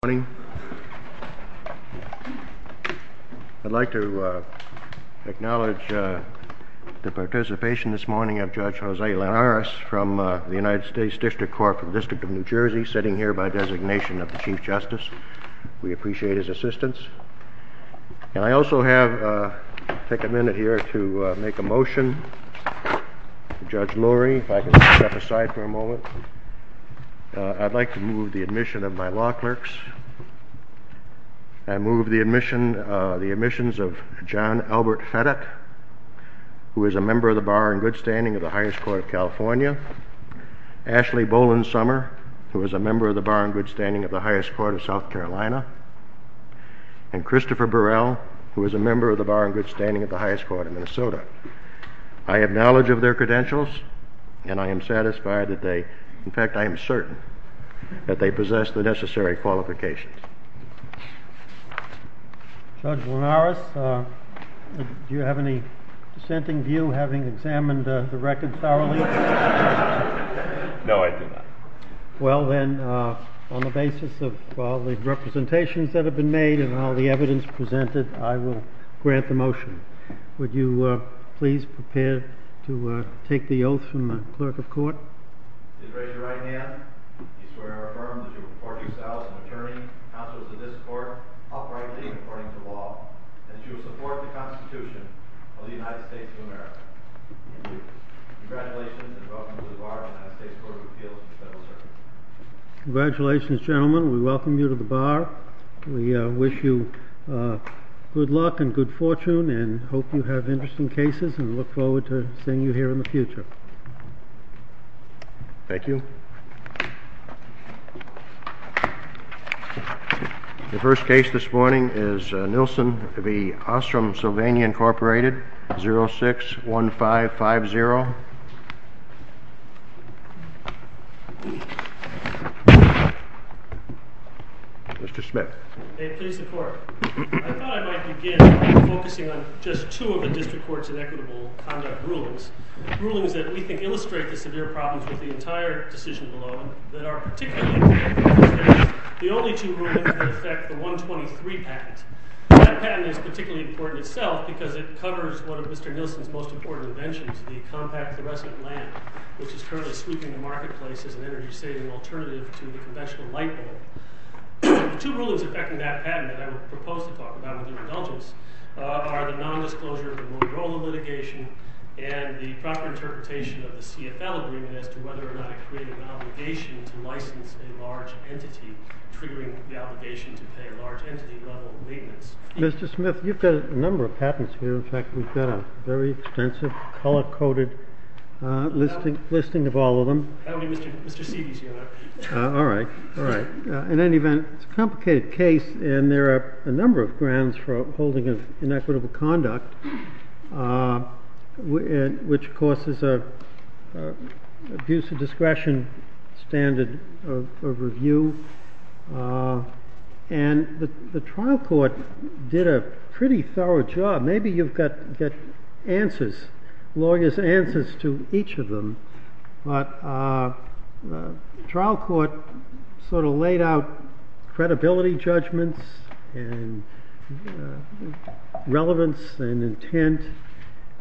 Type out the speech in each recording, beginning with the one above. Good morning. I'd like to acknowledge the participation this morning of Judge Jose Linares from the United States District Court for the District of New Jersey, sitting here by designation of the Chief Justice. We appreciate his assistance. And I also have, take a minute here to make a motion. Judge Lurie, if I could step aside for a moment. I'd like to move the admission of my law clerks. I move the admissions of John Albert Fettet, who is a member of the Bar and Good Standing of the Highest Court of California. Ashley Boland-Sommer, who is a member of the Bar and Good Standing of the Highest Court of South Carolina. And Christopher Burrell, who is a member of the Bar and Good Standing of the Highest Court of Minnesota. I have knowledge of their credentials, and I am satisfied that they, in fact I am certain, that they possess the necessary qualifications. Judge Linares, do you have any dissenting view, having examined the record thoroughly? No, I do not. Well then, on the basis of all the representations that have been made and all the evidence presented, I will grant the motion. Would you please prepare to take the oath from the clerk of court? I do. Please raise your right hand. I swear or affirm that you will report yourself as an attorney, counsel to this court, uprightly and according to law, and that you will support the Constitution of the United States of America. Thank you. Congratulations, and welcome to the Bar of the United States Court of Appeals for Federal Service. Congratulations, gentlemen. We welcome you to the Bar. We wish you good luck and good fortune, and hope you have interesting cases, and look forward to seeing you here in the future. Thank you. The first case this morning is Nilsen v. Ostrom, Sylvania, Incorporated, 06-1550. Mr. Smith. May it please the Court. I thought I might begin by focusing on just two of the district court's inequitable conduct rulings, rulings that we think illustrate the severe problems with the entire decision below, and that are particularly important. The only two rulings that affect the 123 patent. That patent is particularly important itself because it covers one of Mr. Nilsen's most important inventions, the compact fluorescent lamp, which is currently sweeping the marketplace as an energy-saving alternative to the conventional light bulb. The two rulings affecting that patent that I would propose to talk about with your indulgence are the nondisclosure of the Motorola litigation, and the proper interpretation of the CFL agreement as to whether or not it created an obligation to license a large entity, triggering the obligation to pay large entity-level maintenance. Mr. Smith, you've got a number of patents here. In fact, we've got a very extensive, color-coded listing of all of them. That would be Mr. Seegee's unit. All right. In any event, it's a complicated case, and there are a number of grounds for holding of inequitable conduct, which causes an abuse of discretion standard of review. And the trial court did a pretty thorough job. Maybe you've got lawyers' answers to each of them, but the trial court sort of laid out credibility judgments and relevance and intent,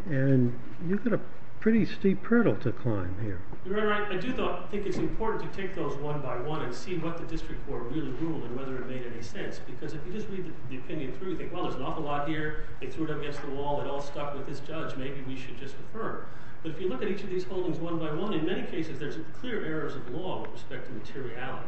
and you've got a pretty steep hurdle to climb here. Your Honor, I do think it's important to take those one by one and see what the district court really ruled and whether it made any sense, because if you just read the opinion through, you think, well, there's an awful lot here. They threw it against the wall. It all stuck with this judge. Maybe we should just defer. But if you look at each of these holdings one by one, in many cases, there's clear errors of law with respect to materiality.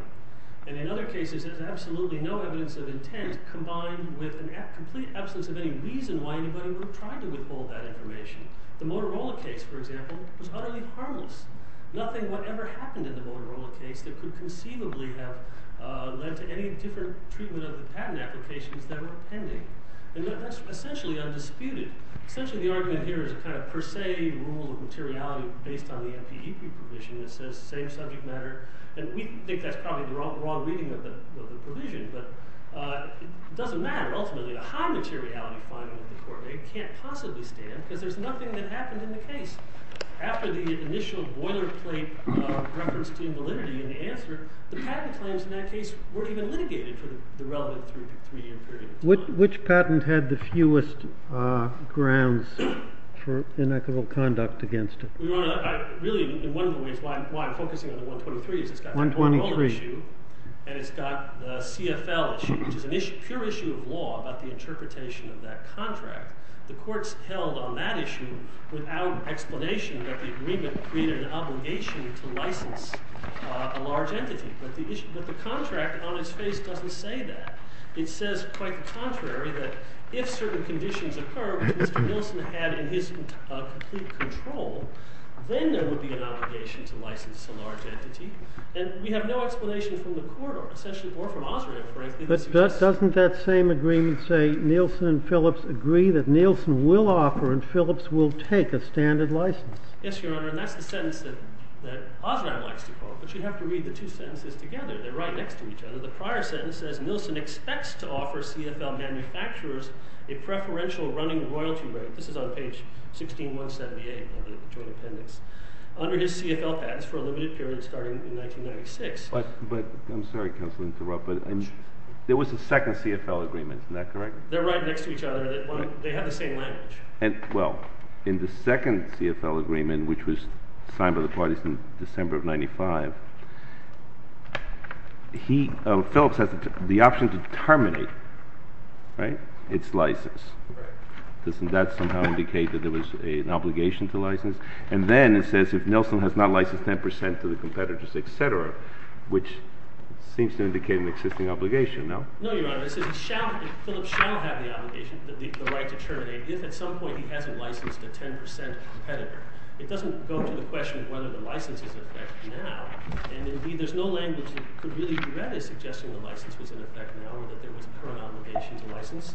And in other cases, there's absolutely no evidence of intent combined with a complete absence of any reason why anybody would try to withhold that information. The Motorola case, for example, was utterly harmless. Nothing whatever happened in the Motorola case that could conceivably have led to any different treatment of the patent applications that were pending. And that's essentially undisputed. Essentially, the argument here is a kind of per se rule of materiality based on the FPEP provision that says same subject matter. And we think that's probably the wrong reading of the provision, but it doesn't matter. Ultimately, the high materiality finding of the court can't possibly stand, because there's nothing that happened in the case. After the initial boilerplate reference to invalidity in the answer, the patent claims in that case weren't even litigated for the relevant three-year period. Which patent had the fewest grounds for inequitable conduct against it? Really, one of the ways why I'm focusing on the 123 is it's got the Motorola issue, and it's got the CFL issue, which is a pure issue of law about the interpretation of that contract. The court's held on that issue without explanation that the agreement created an obligation to license a large entity. But the contract on its face doesn't say that. It says, quite the contrary, that if certain conditions occur, which Mr. Nielsen had in his complete control, then there would be an obligation to license a large entity. And we have no explanation from the court, or from Osram, frankly. But doesn't that same agreement say Nielsen and Phillips agree that Nielsen will offer and Phillips will take a standard license? Yes, Your Honor. And that's the sentence that Osram likes to quote. But you'd have to read the two sentences together. They're right next to each other. The prior sentence says, Nielsen expects to offer CFL manufacturers a preferential running royalty rate. This is on page 16178 of the joint appendix. Under his CFL patents for a limited period starting in 1996. But I'm sorry, counsel, to interrupt. There was a second CFL agreement. Isn't that correct? They're right next to each other. They have the same language. Well, in the second CFL agreement, which was signed by the parties in December of 1995, Phillips has the option to terminate its license. Doesn't that somehow indicate that there was an obligation to license? And then it says if Nielsen has not licensed 10% to the competitors, et cetera, which seems to indicate an existing obligation, no? No, Your Honor. It says Phillips shall have the obligation, the right to terminate, if at some point he hasn't licensed a 10% competitor. It doesn't go to the question of whether the license is in effect now. And indeed, there's no language that could really be read as suggesting the license was in effect now or that there was a current obligation to license.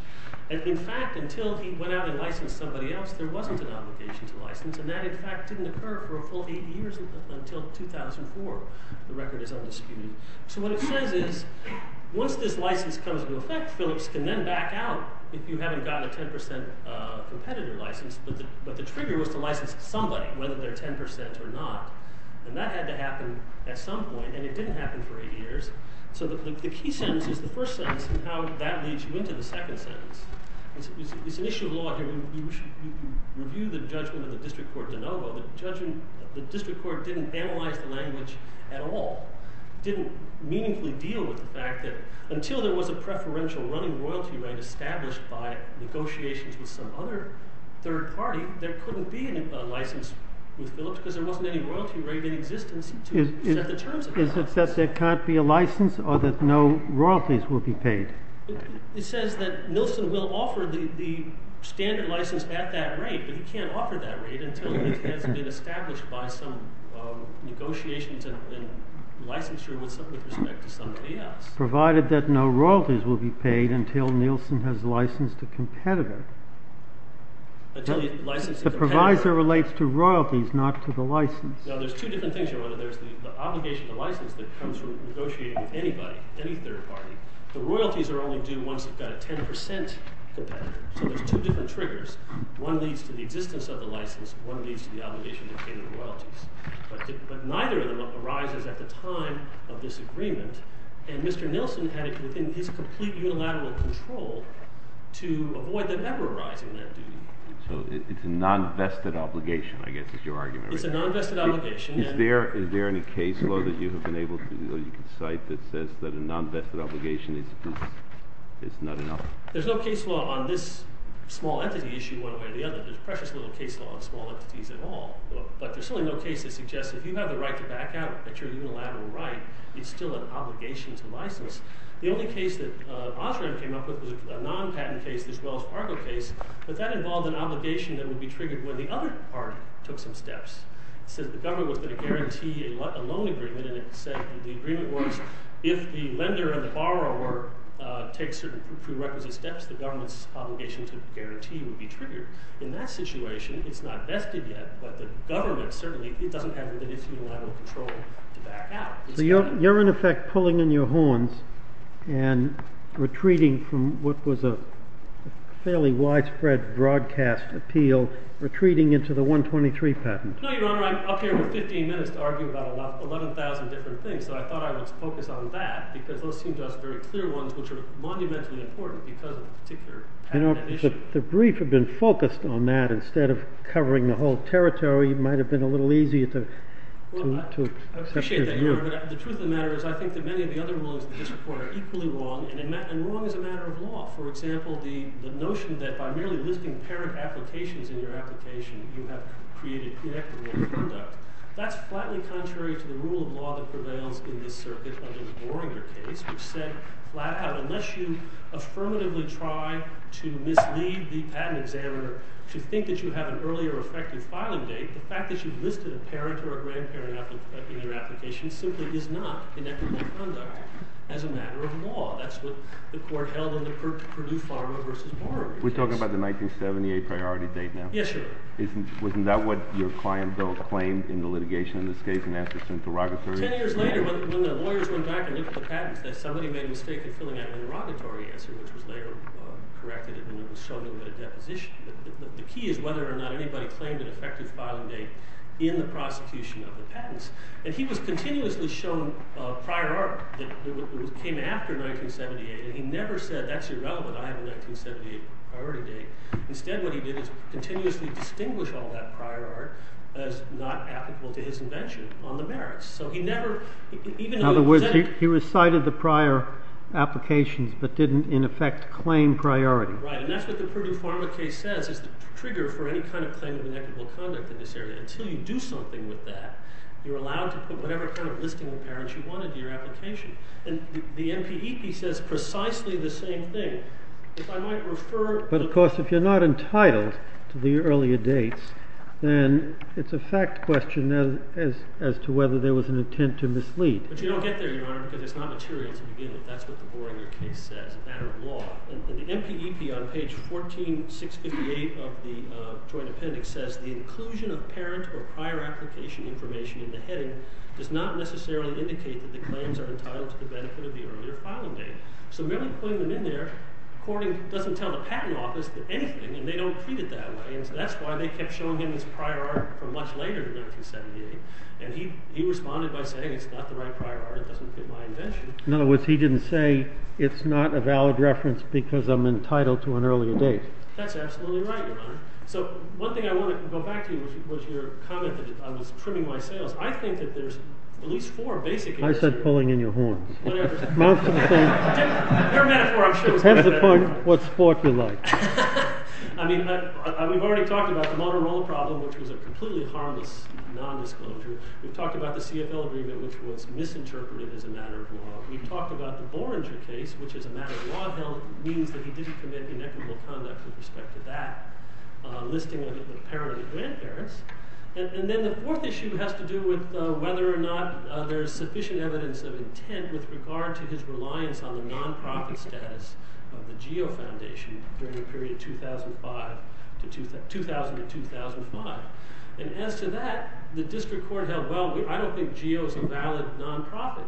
And in fact, until he went out and licensed somebody else, there wasn't an obligation to license. And that, in fact, didn't occur for a full 80 years until 2004. The record is undisputed. So what it says is once this license comes into effect, Phillips can then back out if you haven't gotten a 10% competitor license. But the trigger was to license somebody, whether they're 10% or not. And that had to happen at some point. And it didn't happen for 80 years. So the key sentence is the first sentence and how that leads you into the second sentence. It's an issue of law here. You review the judgment of the district court de novo. The district court didn't analyze the language at all, didn't meaningfully deal with the fact that until there was a preferential running royalty rate established by negotiations with some other third party, there couldn't be a license with Phillips because there wasn't any royalty rate in existence to set the terms of the license. Is it that there can't be a license or that no royalties will be paid? It says that Nilsen will offer the standard license at that rate. But he can't offer that rate until it has been established by some negotiations and licensure with respect to somebody else. Provided that no royalties will be paid until Nilsen has licensed a competitor. The provisor relates to royalties, not to the license. Now, there's two different things here, whether there's the obligation to license that comes from negotiating with anybody, any third party. The royalties are only due once you've got a 10% competitor. So there's two different triggers. One leads to the existence of the license. One leads to the obligation to pay the royalties. But neither of them arises at the time of this agreement. And Mr. Nilsen had it within his complete unilateral control to avoid them ever arising that duty. So it's a non-vested obligation, I guess, is your argument. It's a non-vested obligation. Is there any case law that you have been able to cite that says that a non-vested obligation is not enough? There's no case law on this small entity issue one way or the other. There's precious little case law on small entities at all. But there's certainly no case that suggests that if you have the right to back out at your unilateral right, it's still an obligation to license. The only case that Osram came up with was a non-patent case, this Wells Fargo case. But that involved an obligation that would be triggered when the other party took some steps. It says the government was going to guarantee a loan agreement. And it said in the agreement words, if the lender and the borrower take certain prerequisite steps, the government's obligation to guarantee would be triggered. In that situation, it's not vested yet. But the government certainly doesn't have the unilateral control to back out. So you're, in effect, pulling in your horns and retreating from what was a fairly widespread broadcast appeal, retreating into the 123 patent. No, Your Honor, I'm up here with 15 minutes to argue about 11,000 different things. So I thought I would focus on that. Because those seem to us very clear ones which are monumentally important because of a particular patent issue. The brief had been focused on that instead of covering the whole territory. It might have been a little easier to accept his view. Well, I appreciate that, Your Honor. But the truth of the matter is I think that many of the other rulings in this report are equally wrong. And wrong is a matter of law. For example, the notion that by merely listing parent applications in your application, you have created connected-law conduct. That's flatly contrary to the rule of law that prevails in this circuit under the Boringer case, which said flat out, unless you affirmatively try to mislead the patent examiner to think that you have an earlier effective filing date, the fact that you've listed a parent or a grandparent in your application simply is not connected-law conduct as a matter of law. That's what the court held in the Purdue-Farmer v. Boringer case. We're talking about the 1978 priority date now? Yes, Your Honor. Wasn't that what your client, Bill, claimed in the litigation in this case and asked us in interrogatory? Ten years later, when the lawyers went back and looked at the patents, somebody made a mistake in filling out an interrogatory answer, which was later corrected and then it was shown in a deposition. The key is whether or not anybody claimed an effective filing date in the prosecution of the patents. And he was continuously shown prior art that came after 1978, and he never said, that's irrelevant, I have a 1978 priority date. Instead, what he did was continuously distinguish all that prior art as not applicable to his invention on the merits. So he never- In other words, he recited the prior applications but didn't, in effect, claim priority. Right. And that's what the Purdue-Farmer case says is the trigger for any kind of claim of inequitable conduct in this area. Until you do something with that, you're allowed to put whatever kind of listing of parents you wanted in your application. And the NPEP says precisely the same thing. If I might refer- But of course, if you're not entitled to the earlier dates, then it's a fact question as to whether there was an intent to mislead. But you don't get there, Your Honor, because it's not material to begin with. That's what the Boringer case says, a matter of law. And the NPEP on page 14658 of the Joint Appendix says, the inclusion of parent or prior application information in the heading does not necessarily indicate that the claims are entitled to the benefit of the earlier filing date. So merely putting them in there doesn't tell the patent office anything, and they don't treat it that way. And so that's why they kept showing him his prior art from much later than 1978. And he responded by saying, it's not the right prior art, it doesn't fit my invention. In other words, he didn't say, it's not a valid reference because I'm entitled to an earlier date. That's absolutely right, Your Honor. So one thing I want to go back to was your comment that I was trimming my sails. I think that there's at least four basic- I said pulling in your horns. Whatever. They're a metaphor, I'm sure. Depends upon what sport you like. I mean, we've already talked about the motor roller problem, which was a completely harmless nondisclosure. We've talked about the CFL agreement, which was misinterpreted as a matter of law. We've talked about the Borenger case, which as a matter of law means that he didn't commit inequitable conduct with respect to that. Listing of the parent and grandparents. And then the fourth issue has to do with whether or not there's sufficient evidence of intent with regard to his reliance on the nonprofit status of the GEO Foundation during the period 2000 to 2005. And as to that, the district court held, well, I don't think GEO is a valid nonprofit.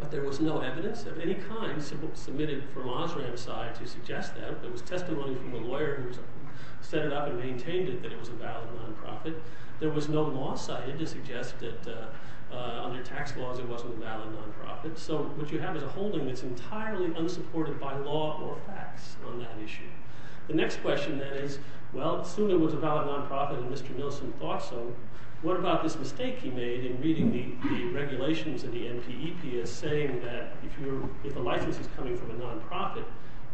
But there was no evidence of any kind submitted from Osram's side to suggest that. There was testimony from a lawyer who set it up and maintained it that it was a valid nonprofit. There was no law cited to suggest that under tax laws it wasn't a valid nonprofit. So what you have is a holding that's entirely unsupported by law or facts on that issue. The next question, then, is, well, assume it was a valid nonprofit and Mr. Nilsen thought so. What about this mistake he made in reading the regulations and the NPEP as saying that if a license is coming from a nonprofit,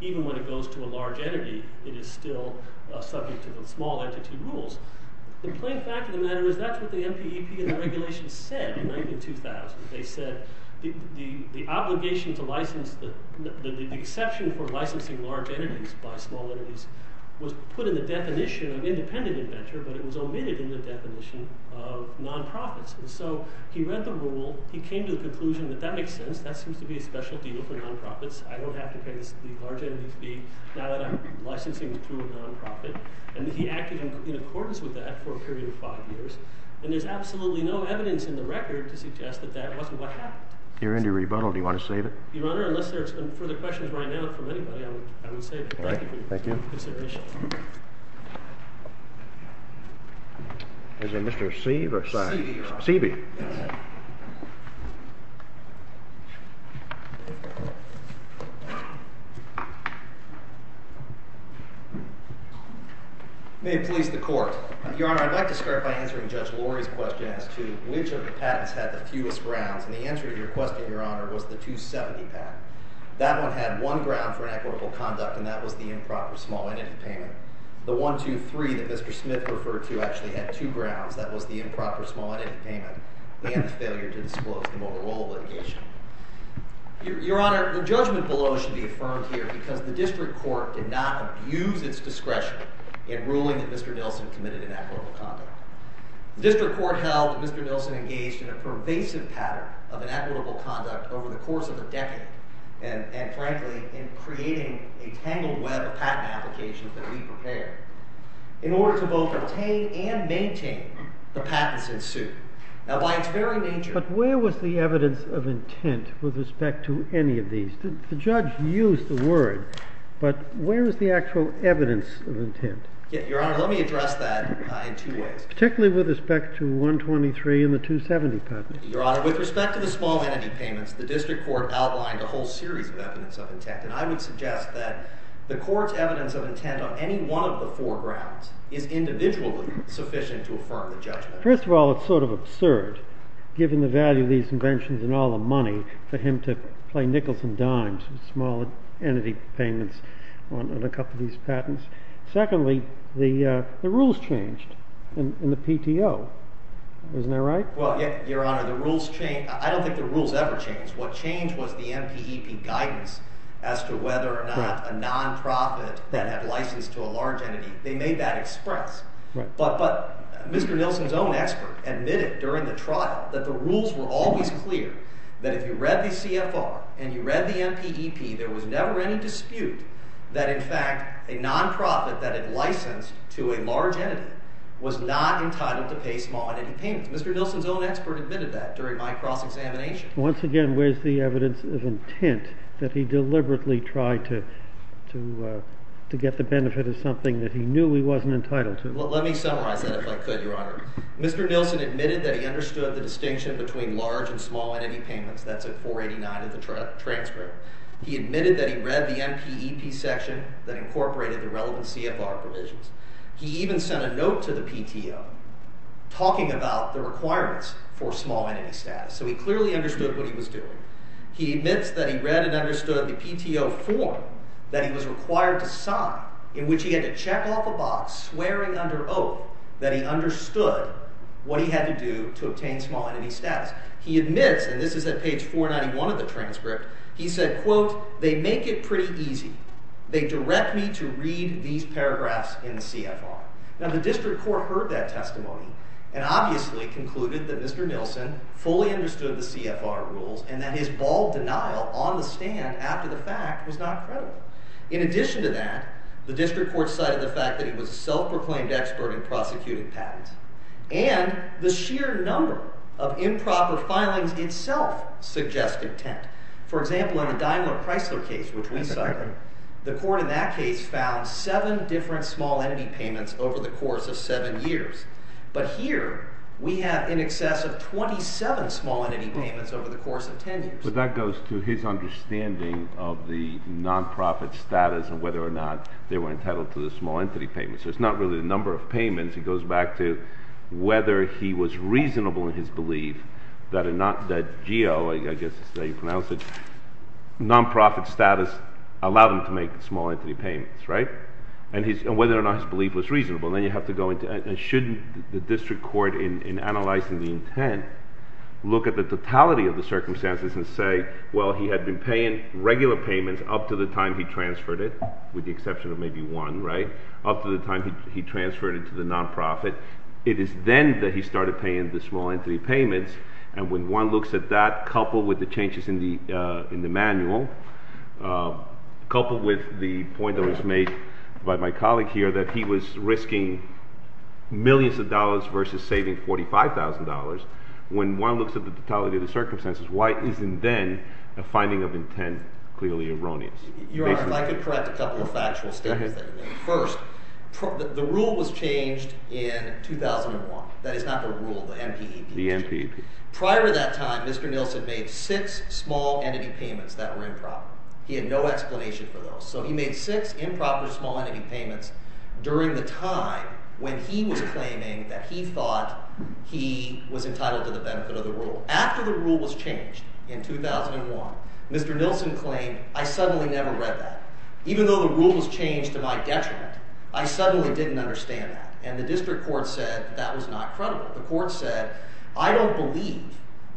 even when it goes to a large entity, it is still subject to the small entity rules? The plain fact of the matter is that's what the NPEP and the regulations said in 2000. They said the exception for licensing large entities by small entities was put in the definition of independent inventor, but it was omitted in the definition of nonprofits. And so he read the rule. He came to the conclusion that that makes sense. That seems to be a special deal for nonprofits. I don't have to pay the large entity fee now that I'm licensing to a nonprofit. And he acted in accordance with that for a period of five years. And there's absolutely no evidence in the record to suggest that that wasn't what happened. You're under rebuttal. Do you want to save it? Your Honor, unless there's further questions right now from anybody, I would save it. Thank you. Thank you for your consideration. Is it Mr. Seave or Seavey? Seavey. May it please the Court. Your Honor, I'd like to start by answering Judge Lori's question as to which of the patents had the fewest grounds. And the answer to your question, Your Honor, was the 270 patent. That one had one ground for inequitable conduct, and that was the improper small entity payment. The 123 that Mr. Smith referred to actually had two grounds. That was the improper small entity payment and the failure to disclose the mobile roll litigation. Your Honor, the judgment below should be affirmed here because the district court did not abuse its discretion in ruling that Mr. Nilsen committed inequitable conduct. The district court held that Mr. Nilsen engaged in a pervasive pattern of inequitable conduct over the course of a decade, and frankly, in creating a tangled web of patent applications that we prepared, in order to both obtain and maintain the patents in suit. Now, by its very nature— But where was the evidence of intent with respect to any of these? The judge used the word, but where is the actual evidence of intent? Your Honor, let me address that in two ways. Particularly with respect to 123 and the 270 patent. Your Honor, with respect to the small entity payments, the district court outlined a whole series of evidence of intent, and I would suggest that the court's evidence of intent on any one of the four grounds is individually sufficient to affirm the judgment. But first of all, it's sort of absurd, given the value of these inventions and all the money, for him to play nickels and dimes with small entity payments on a couple of these patents. Secondly, the rules changed in the PTO. Isn't that right? Well, Your Honor, I don't think the rules ever changed. What changed was the NPEP guidance as to whether or not a nonprofit that had license to a large entity, they made that express. But Mr. Nilsen's own expert admitted during the trial that the rules were always clear, that if you read the CFR and you read the NPEP, there was never any dispute that, in fact, a nonprofit that had license to a large entity was not entitled to pay small entity payments. Mr. Nilsen's own expert admitted that during my cross-examination. Once again, where's the evidence of intent that he deliberately tried to get the benefit of something that he knew he wasn't entitled to? Well, let me summarize that, if I could, Your Honor. Mr. Nilsen admitted that he understood the distinction between large and small entity payments. That's at 489 of the transcript. He admitted that he read the NPEP section that incorporated the relevant CFR provisions. He even sent a note to the PTO talking about the requirements for small entity status. So he clearly understood what he was doing. He admits that he read and understood the PTO form that he was required to sign, in which he had to check off a box swearing under oath that he understood what he had to do to obtain small entity status. He admits, and this is at page 491 of the transcript, he said, quote, they make it pretty easy. They direct me to read these paragraphs in the CFR. Now, the district court heard that testimony and obviously concluded that Mr. Nilsen fully understood the CFR rules and that his bald denial on the stand after the fact was not credible. In addition to that, the district court cited the fact that he was a self-proclaimed expert in prosecuting patents and the sheer number of improper filings itself suggest intent. For example, in the Daimler-Preisler case, which we cited, the court in that case found seven different small entity payments over the course of seven years. But here, we have in excess of 27 small entity payments over the course of 10 years. But that goes to his understanding of the nonprofit status and whether or not they were entitled to the small entity payments. He goes back to whether he was reasonable in his belief that a non—that GEO, I guess is how you pronounce it, nonprofit status allowed him to make small entity payments, right? And whether or not his belief was reasonable. And then you have to go into—and shouldn't the district court, in analyzing the intent, look at the totality of the circumstances and say, well, he had been paying regular payments up to the time he transferred it, with the exception of maybe one, right, up to the time he transferred it to the nonprofit. It is then that he started paying the small entity payments. And when one looks at that, coupled with the changes in the manual, coupled with the point that was made by my colleague here that he was risking millions of dollars versus saving $45,000, when one looks at the totality of the circumstances, why isn't then a finding of intent clearly erroneous? Your Honor, if I could correct a couple of factual statements that you made. First, the rule was changed in 2001. That is not the rule, the NPEP. The NPEP. Prior to that time, Mr. Nielsen made six small entity payments that were improper. He had no explanation for those. So he made six improper small entity payments during the time when he was claiming that he thought he was entitled to the benefit of the rule. After the rule was changed in 2001, Mr. Nielsen claimed, I suddenly never read that. Even though the rule was changed to my detriment, I suddenly didn't understand that. And the district court said that was not credible. The court said, I don't believe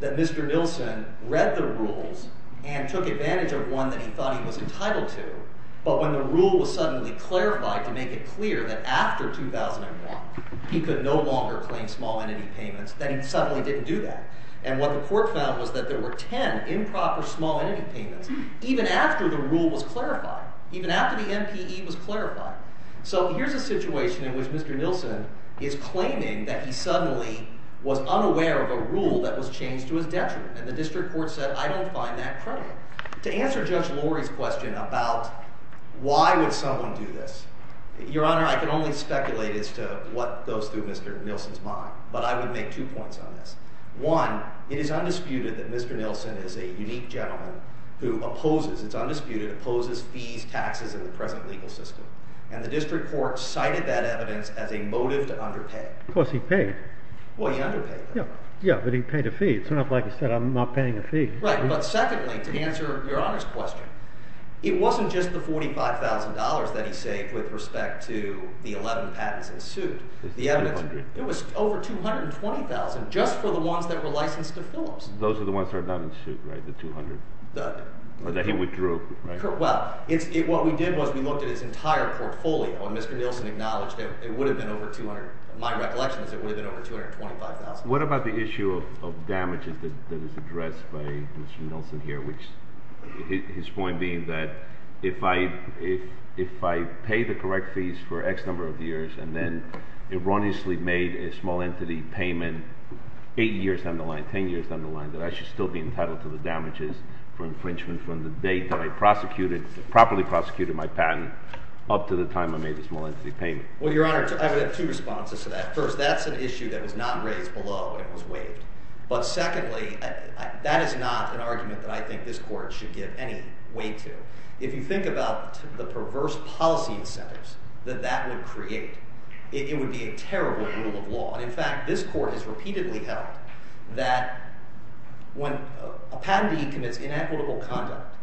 that Mr. Nielsen read the rules and took advantage of one that he thought he was entitled to. But when the rule was suddenly clarified to make it clear that after 2001 he could no longer claim small entity payments, that he suddenly didn't do that. And what the court found was that there were ten improper small entity payments, even after the rule was clarified. Even after the NPE was clarified. So here's a situation in which Mr. Nielsen is claiming that he suddenly was unaware of a rule that was changed to his detriment. And the district court said, I don't find that credible. To answer Judge Lori's question about why would someone do this, Your Honor, I can only speculate as to what goes through Mr. Nielsen's mind. But I would make two points on this. One, it is undisputed that Mr. Nielsen is a unique gentleman who opposes, it's undisputed, opposes fees, taxes in the present legal system. And the district court cited that evidence as a motive to underpay. Because he paid. Well, he underpaid. Yeah, but he paid a fee. It's not like he said, I'm not paying a fee. Right, but secondly, to answer Your Honor's question, it wasn't just the $45,000 that he saved with respect to the 11 patents in suit. The evidence, it was over $220,000 just for the ones that were licensed to Phillips. Those are the ones that are not in suit, right, the $200,000 that he withdrew. Well, what we did was we looked at his entire portfolio. And Mr. Nielsen acknowledged that it would have been over $200,000. My recollection is that it would have been over $225,000. What about the issue of damages that is addressed by Mr. Nielsen here, which his point being that if I pay the correct fees for X number of years and then erroneously made a small entity payment 8 years down the line, 10 years down the line, that I should still be entitled to the damages for infringement from the date that I prosecuted, properly prosecuted my patent up to the time I made the small entity payment? Well, Your Honor, I would have two responses to that. First, that's an issue that was not raised below and was waived. But secondly, that is not an argument that I think this Court should give any weight to. If you think about the perverse policy incentives that that would create, it would be a terrible rule of law. And in fact, this Court has repeatedly held that when a patentee commits inequitable conduct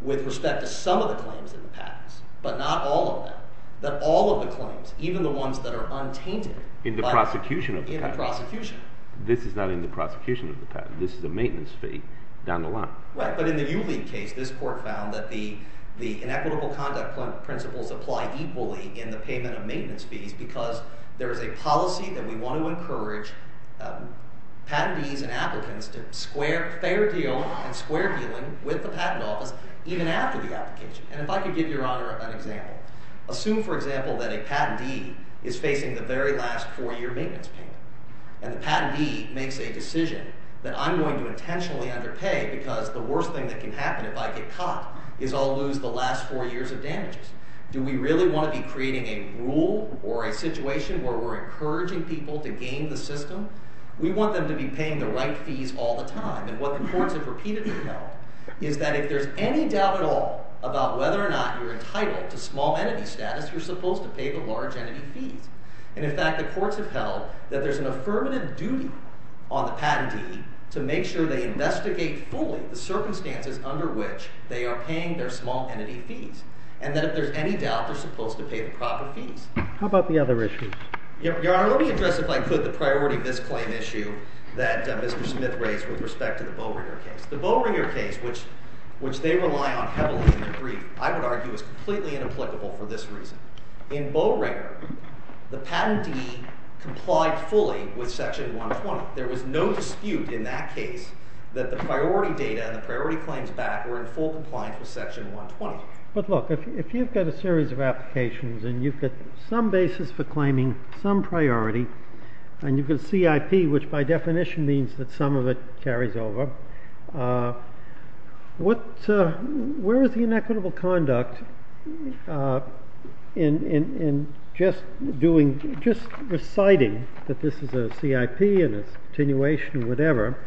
with respect to some of the claims in the patents but not all of them, that all of the claims, even the ones that are untainted, In the prosecution of the patent. In the prosecution. This is not in the prosecution of the patent. This is a maintenance fee down the line. Right, but in the Uleague case, this Court found that the inequitable conduct principles apply equally in the payment of maintenance fees because there is a policy that we want to encourage patentees and applicants to square fair deal and square dealing with the patent office even after the application. And if I could give Your Honor an example. Assume, for example, that a patentee is facing the very last four-year maintenance payment. And the patentee makes a decision that I'm going to intentionally underpay because the worst thing that can happen if I get caught is I'll lose the last four years of damages. Do we really want to be creating a rule or a situation where we're encouraging people to game the system? We want them to be paying the right fees all the time. And what the courts have repeatedly held is that if there's any doubt at all about whether or not you're entitled to small entity status, you're supposed to pay the large entity fees. And, in fact, the courts have held that there's an affirmative duty on the patentee to make sure they investigate fully the circumstances under which they are paying their small entity fees and that if there's any doubt, they're supposed to pay the proper fees. How about the other issues? Your Honor, let me address, if I could, the priority of this claim issue that Mr. Smith raised with respect to the Bowringer case. The Bowringer case, which they rely on heavily in their brief, I would argue is completely inapplicable for this reason. In Bowringer, the patentee complied fully with Section 120. There was no dispute in that case that the priority data and the priority claims back were in full compliance with Section 120. But, look, if you've got a series of applications and you've got some basis for claiming some priority and you've got CIP, which by definition means that some of it carries over, where is the inequitable conduct in just reciting that this is a CIP and it's continuation or whatever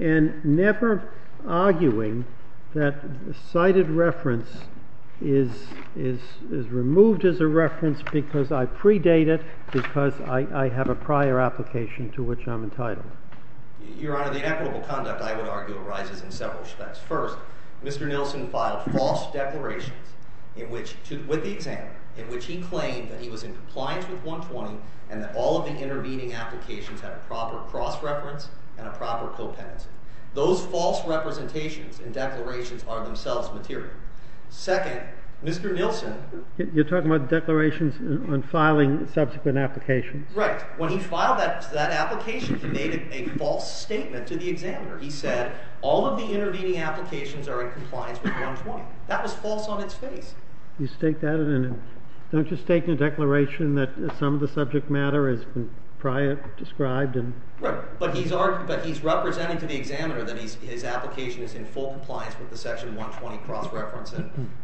and never arguing that the cited reference is removed as a reference because I predate it because I have a prior application to which I'm entitled? Your Honor, the inequitable conduct, I would argue, arises in several respects. First, Mr. Nilsen filed false declarations with the examiner in which he claimed that he was in compliance with 120 and that all of the intervening applications had a proper cross-reference and a proper co-patency. Those false representations and declarations are themselves material. Second, Mr. Nilsen You're talking about declarations on filing subsequent applications? Right. When he filed that application, he made a false statement to the examiner. He said all of the intervening applications are in compliance with 120. That was false on its face. You state that and then don't you state in a declaration that some of the subject matter has been prior described? Right. But he's representing to the examiner that his application is in full compliance with the Section 120 cross-reference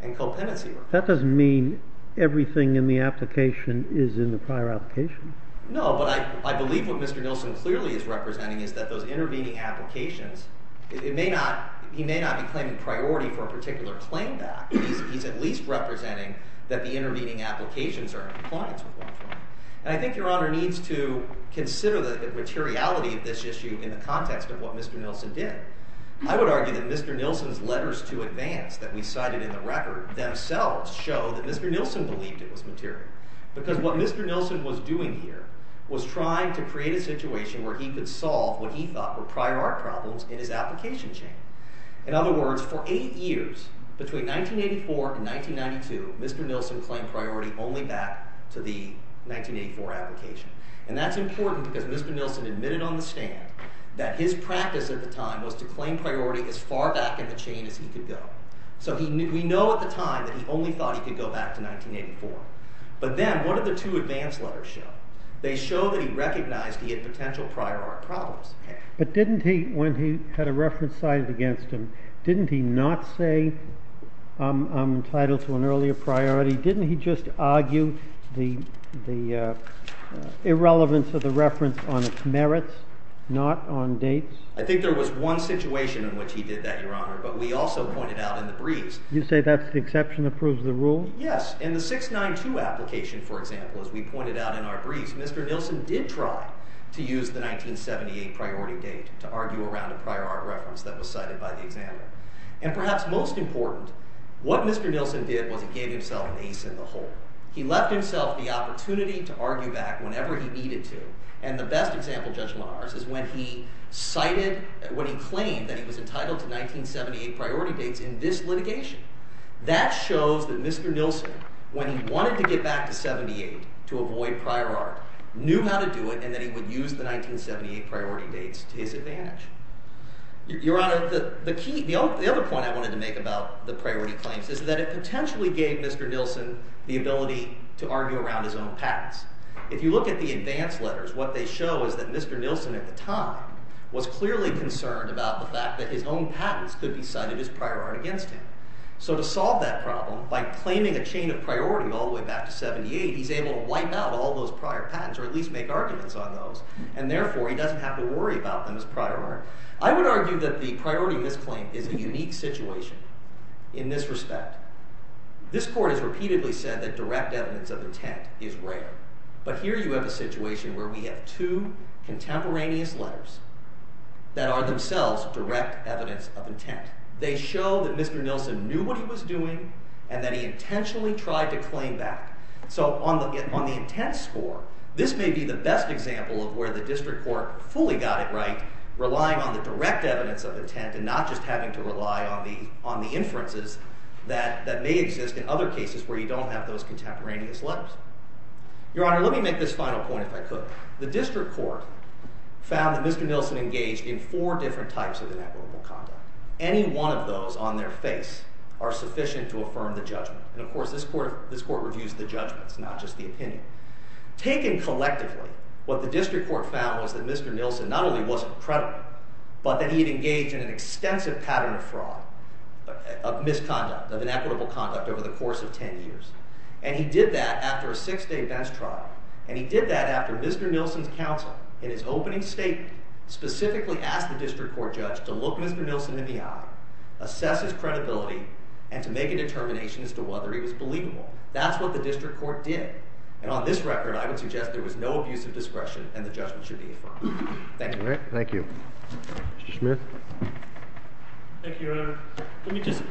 and co-patency. That doesn't mean everything in the application is in the prior application. No, but I believe what Mr. Nilsen clearly is representing is that those intervening applications he may not be claiming priority for a particular claim back. He's at least representing that the intervening applications are in compliance with 120. And I think Your Honor needs to consider the materiality of this issue in the context of what Mr. Nilsen did. I would argue that Mr. Nilsen's letters to advance that we cited in the record themselves show that Mr. Nilsen believed it was material. Because what Mr. Nilsen was doing here was trying to create a situation where he could solve what he thought were prior art problems in his application chain. In other words, for 8 years, between 1984 and 1992, Mr. Nilsen claimed priority only back to the 1984 application. And that's important because Mr. Nilsen admitted on the stand that his practice at the time was to claim priority as far back in the chain as he could go. So we know at the time that he only thought he could go back to 1984. But then, what did the two advance letters show? They show that he recognized he had potential prior art problems. But didn't he, when he had a reference cited against him, didn't he not say, I'm entitled to an earlier priority? Didn't he just argue the irrelevance of the reference on its merits, not on dates? I think there was one situation in which he did that, Your Honor, but we also pointed out in the briefs. You say that's the exception that proves the rule? Yes. In the 692 application, for example, as we pointed out in our briefs, Mr. Nilsen did try to use the 1978 priority date to argue around a prior art reference that was cited by the examiner. And perhaps most important, what Mr. Nilsen did was he gave himself an ace in the hole. He left himself the opportunity to argue back whenever he needed to. And the best example, Judge Meyers, is when he claimed that he was entitled to 1978 priority dates in this litigation. That shows that Mr. Nilsen, when he wanted to get back to 1978 to avoid prior art, knew how to do it and that he would use the 1978 priority dates to his advantage. Your Honor, the other point I wanted to make about the priority claims is that it potentially gave Mr. Nilsen the ability to argue around his own patents. If you look at the advance letters, what they show is that Mr. Nilsen at the time was clearly concerned about the fact that his own patents could be cited as prior art against him. So to solve that problem, by claiming a chain of priority all the way back to 1978, he's able to wipe out all those prior patents, or at least make arguments on those, and therefore he doesn't have to worry about them as prior art. I would argue that the priority misclaim is a unique situation in this respect. This Court has repeatedly said that direct evidence of intent is rare. But here you have a situation where we have two contemporaneous letters that are themselves direct evidence of intent. They show that Mr. Nilsen knew what he was doing and that he intentionally tried to claim back. So on the intent score, this may be the best example of where the District Court fully got it right, relying on the direct evidence of intent and not just having to rely on the inferences that may exist in other cases where you don't have those contemporaneous letters. Your Honor, let me make this final point if I could. The District Court found that Mr. Nilsen engaged in four different types of inequitable conduct. Any one of those on their face are sufficient to affirm the judgment. And of course, this Court reviews the judgments, not just the opinion. Taken collectively, what the District Court found was that Mr. Nilsen not only wasn't credible, but that he had engaged in an extensive pattern of fraud, of misconduct, of inequitable conduct over the course of ten years. And he did that after a six-day bench trial. And he did that after Mr. Nilsen's counsel in his opening statement specifically asked the District Court judge to look Mr. Nilsen in the eye, assess his credibility, and to make a determination as to whether he was believable. That's what the District Court did. And on this record, I would suggest there was no abuse of discretion and the judgment should be affirmed. Thank you. All right. Thank you. Mr. Schmidt. Thank you, Your Honor. Let me just,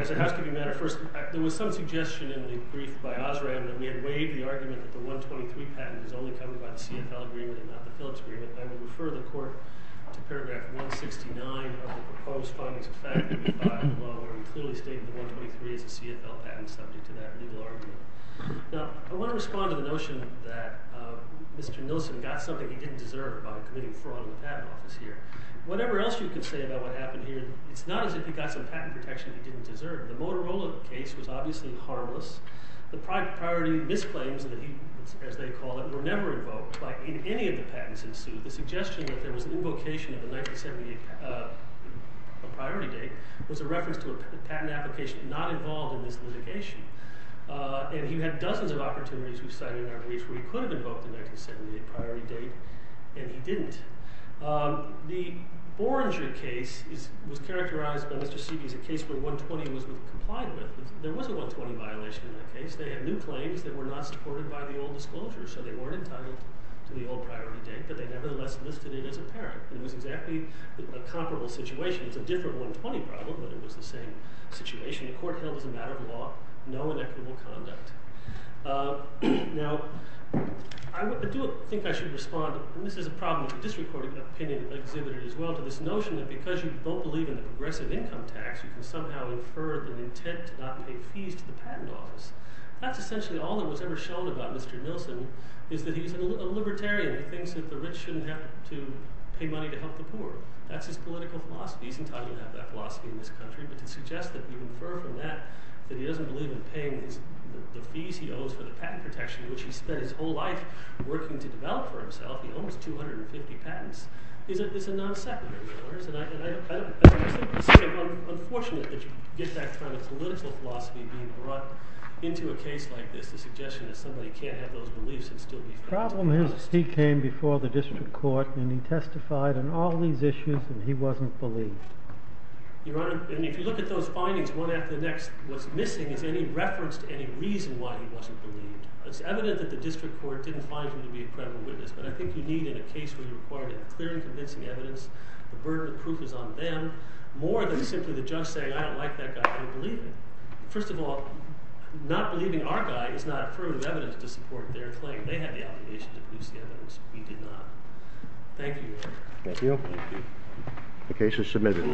as a housekeeping matter, first, there was some suggestion in the brief by Osram that we had waived the argument that the 123 patent was only covered by the CFL agreement and not the Phillips agreement. I will refer the Court to paragraph 169 of the proposed findings of fact, where we clearly stated the 123 is a CFL patent subject to that legal argument. Now, I want to respond to the notion that Mr. Nilsen got something he didn't deserve by committing fraud in the patent office here. Whatever else you can say about what happened here, it's not as if he got some patent protection he didn't deserve. The Motorola case was obviously harmless. The priority misclaims, as they call it, were never invoked. Like in any of the patents in suit, the suggestion that there was an invocation of a priority date was a reference to a patent application not involved in this litigation. And he had dozens of opportunities with signing our briefs where he could have invoked the 1978 priority date, and he didn't. The Borenger case was characterized by Mr. Seiby as a case where 120 was complied with. There was a 120 violation in that case. They had new claims that were not supported by the old disclosures, so they weren't entitled to the old priority date, but they nevertheless listed it as apparent. It was exactly a comparable situation. It's a different 120 problem, but it was the same situation. Again, a court held as a matter of law, no inequitable conduct. Now, I do think I should respond, and this is a problem with the district court opinion exhibited as well, to this notion that because you both believe in the progressive income tax, you can somehow infer the intent to not pay fees to the patent office. That's essentially all that was ever shown about Mr. Nilsen, is that he's a libertarian who thinks that the rich shouldn't have to pay money to help the poor. That's his political philosophy. He's entitled to have that philosophy in this country, but to suggest that you infer from that that he doesn't believe in paying the fees he owes for the patent protection, which he spent his whole life working to develop for himself. He owns 250 patents. It's a non-secondary, Your Honors, and I just think it's sort of unfortunate that you get that kind of political philosophy being brought into a case like this, the suggestion that somebody can't have those beliefs and still be financially honest. The problem is he came before the district court, and he testified on all these issues, and he wasn't believed. Your Honor, if you look at those findings one after the next, what's missing is any reference to any reason why he wasn't believed. It's evident that the district court didn't find him to be a credible witness, but I think you need in a case where you require clear and convincing evidence, the burden of proof is on them, more than simply the judge saying, I don't like that guy, I don't believe him. First of all, not believing our guy is not affirmative evidence to support their claim. They had the obligation to produce the evidence. We did not. Thank you, Your Honor. Thank you. The case is submitted.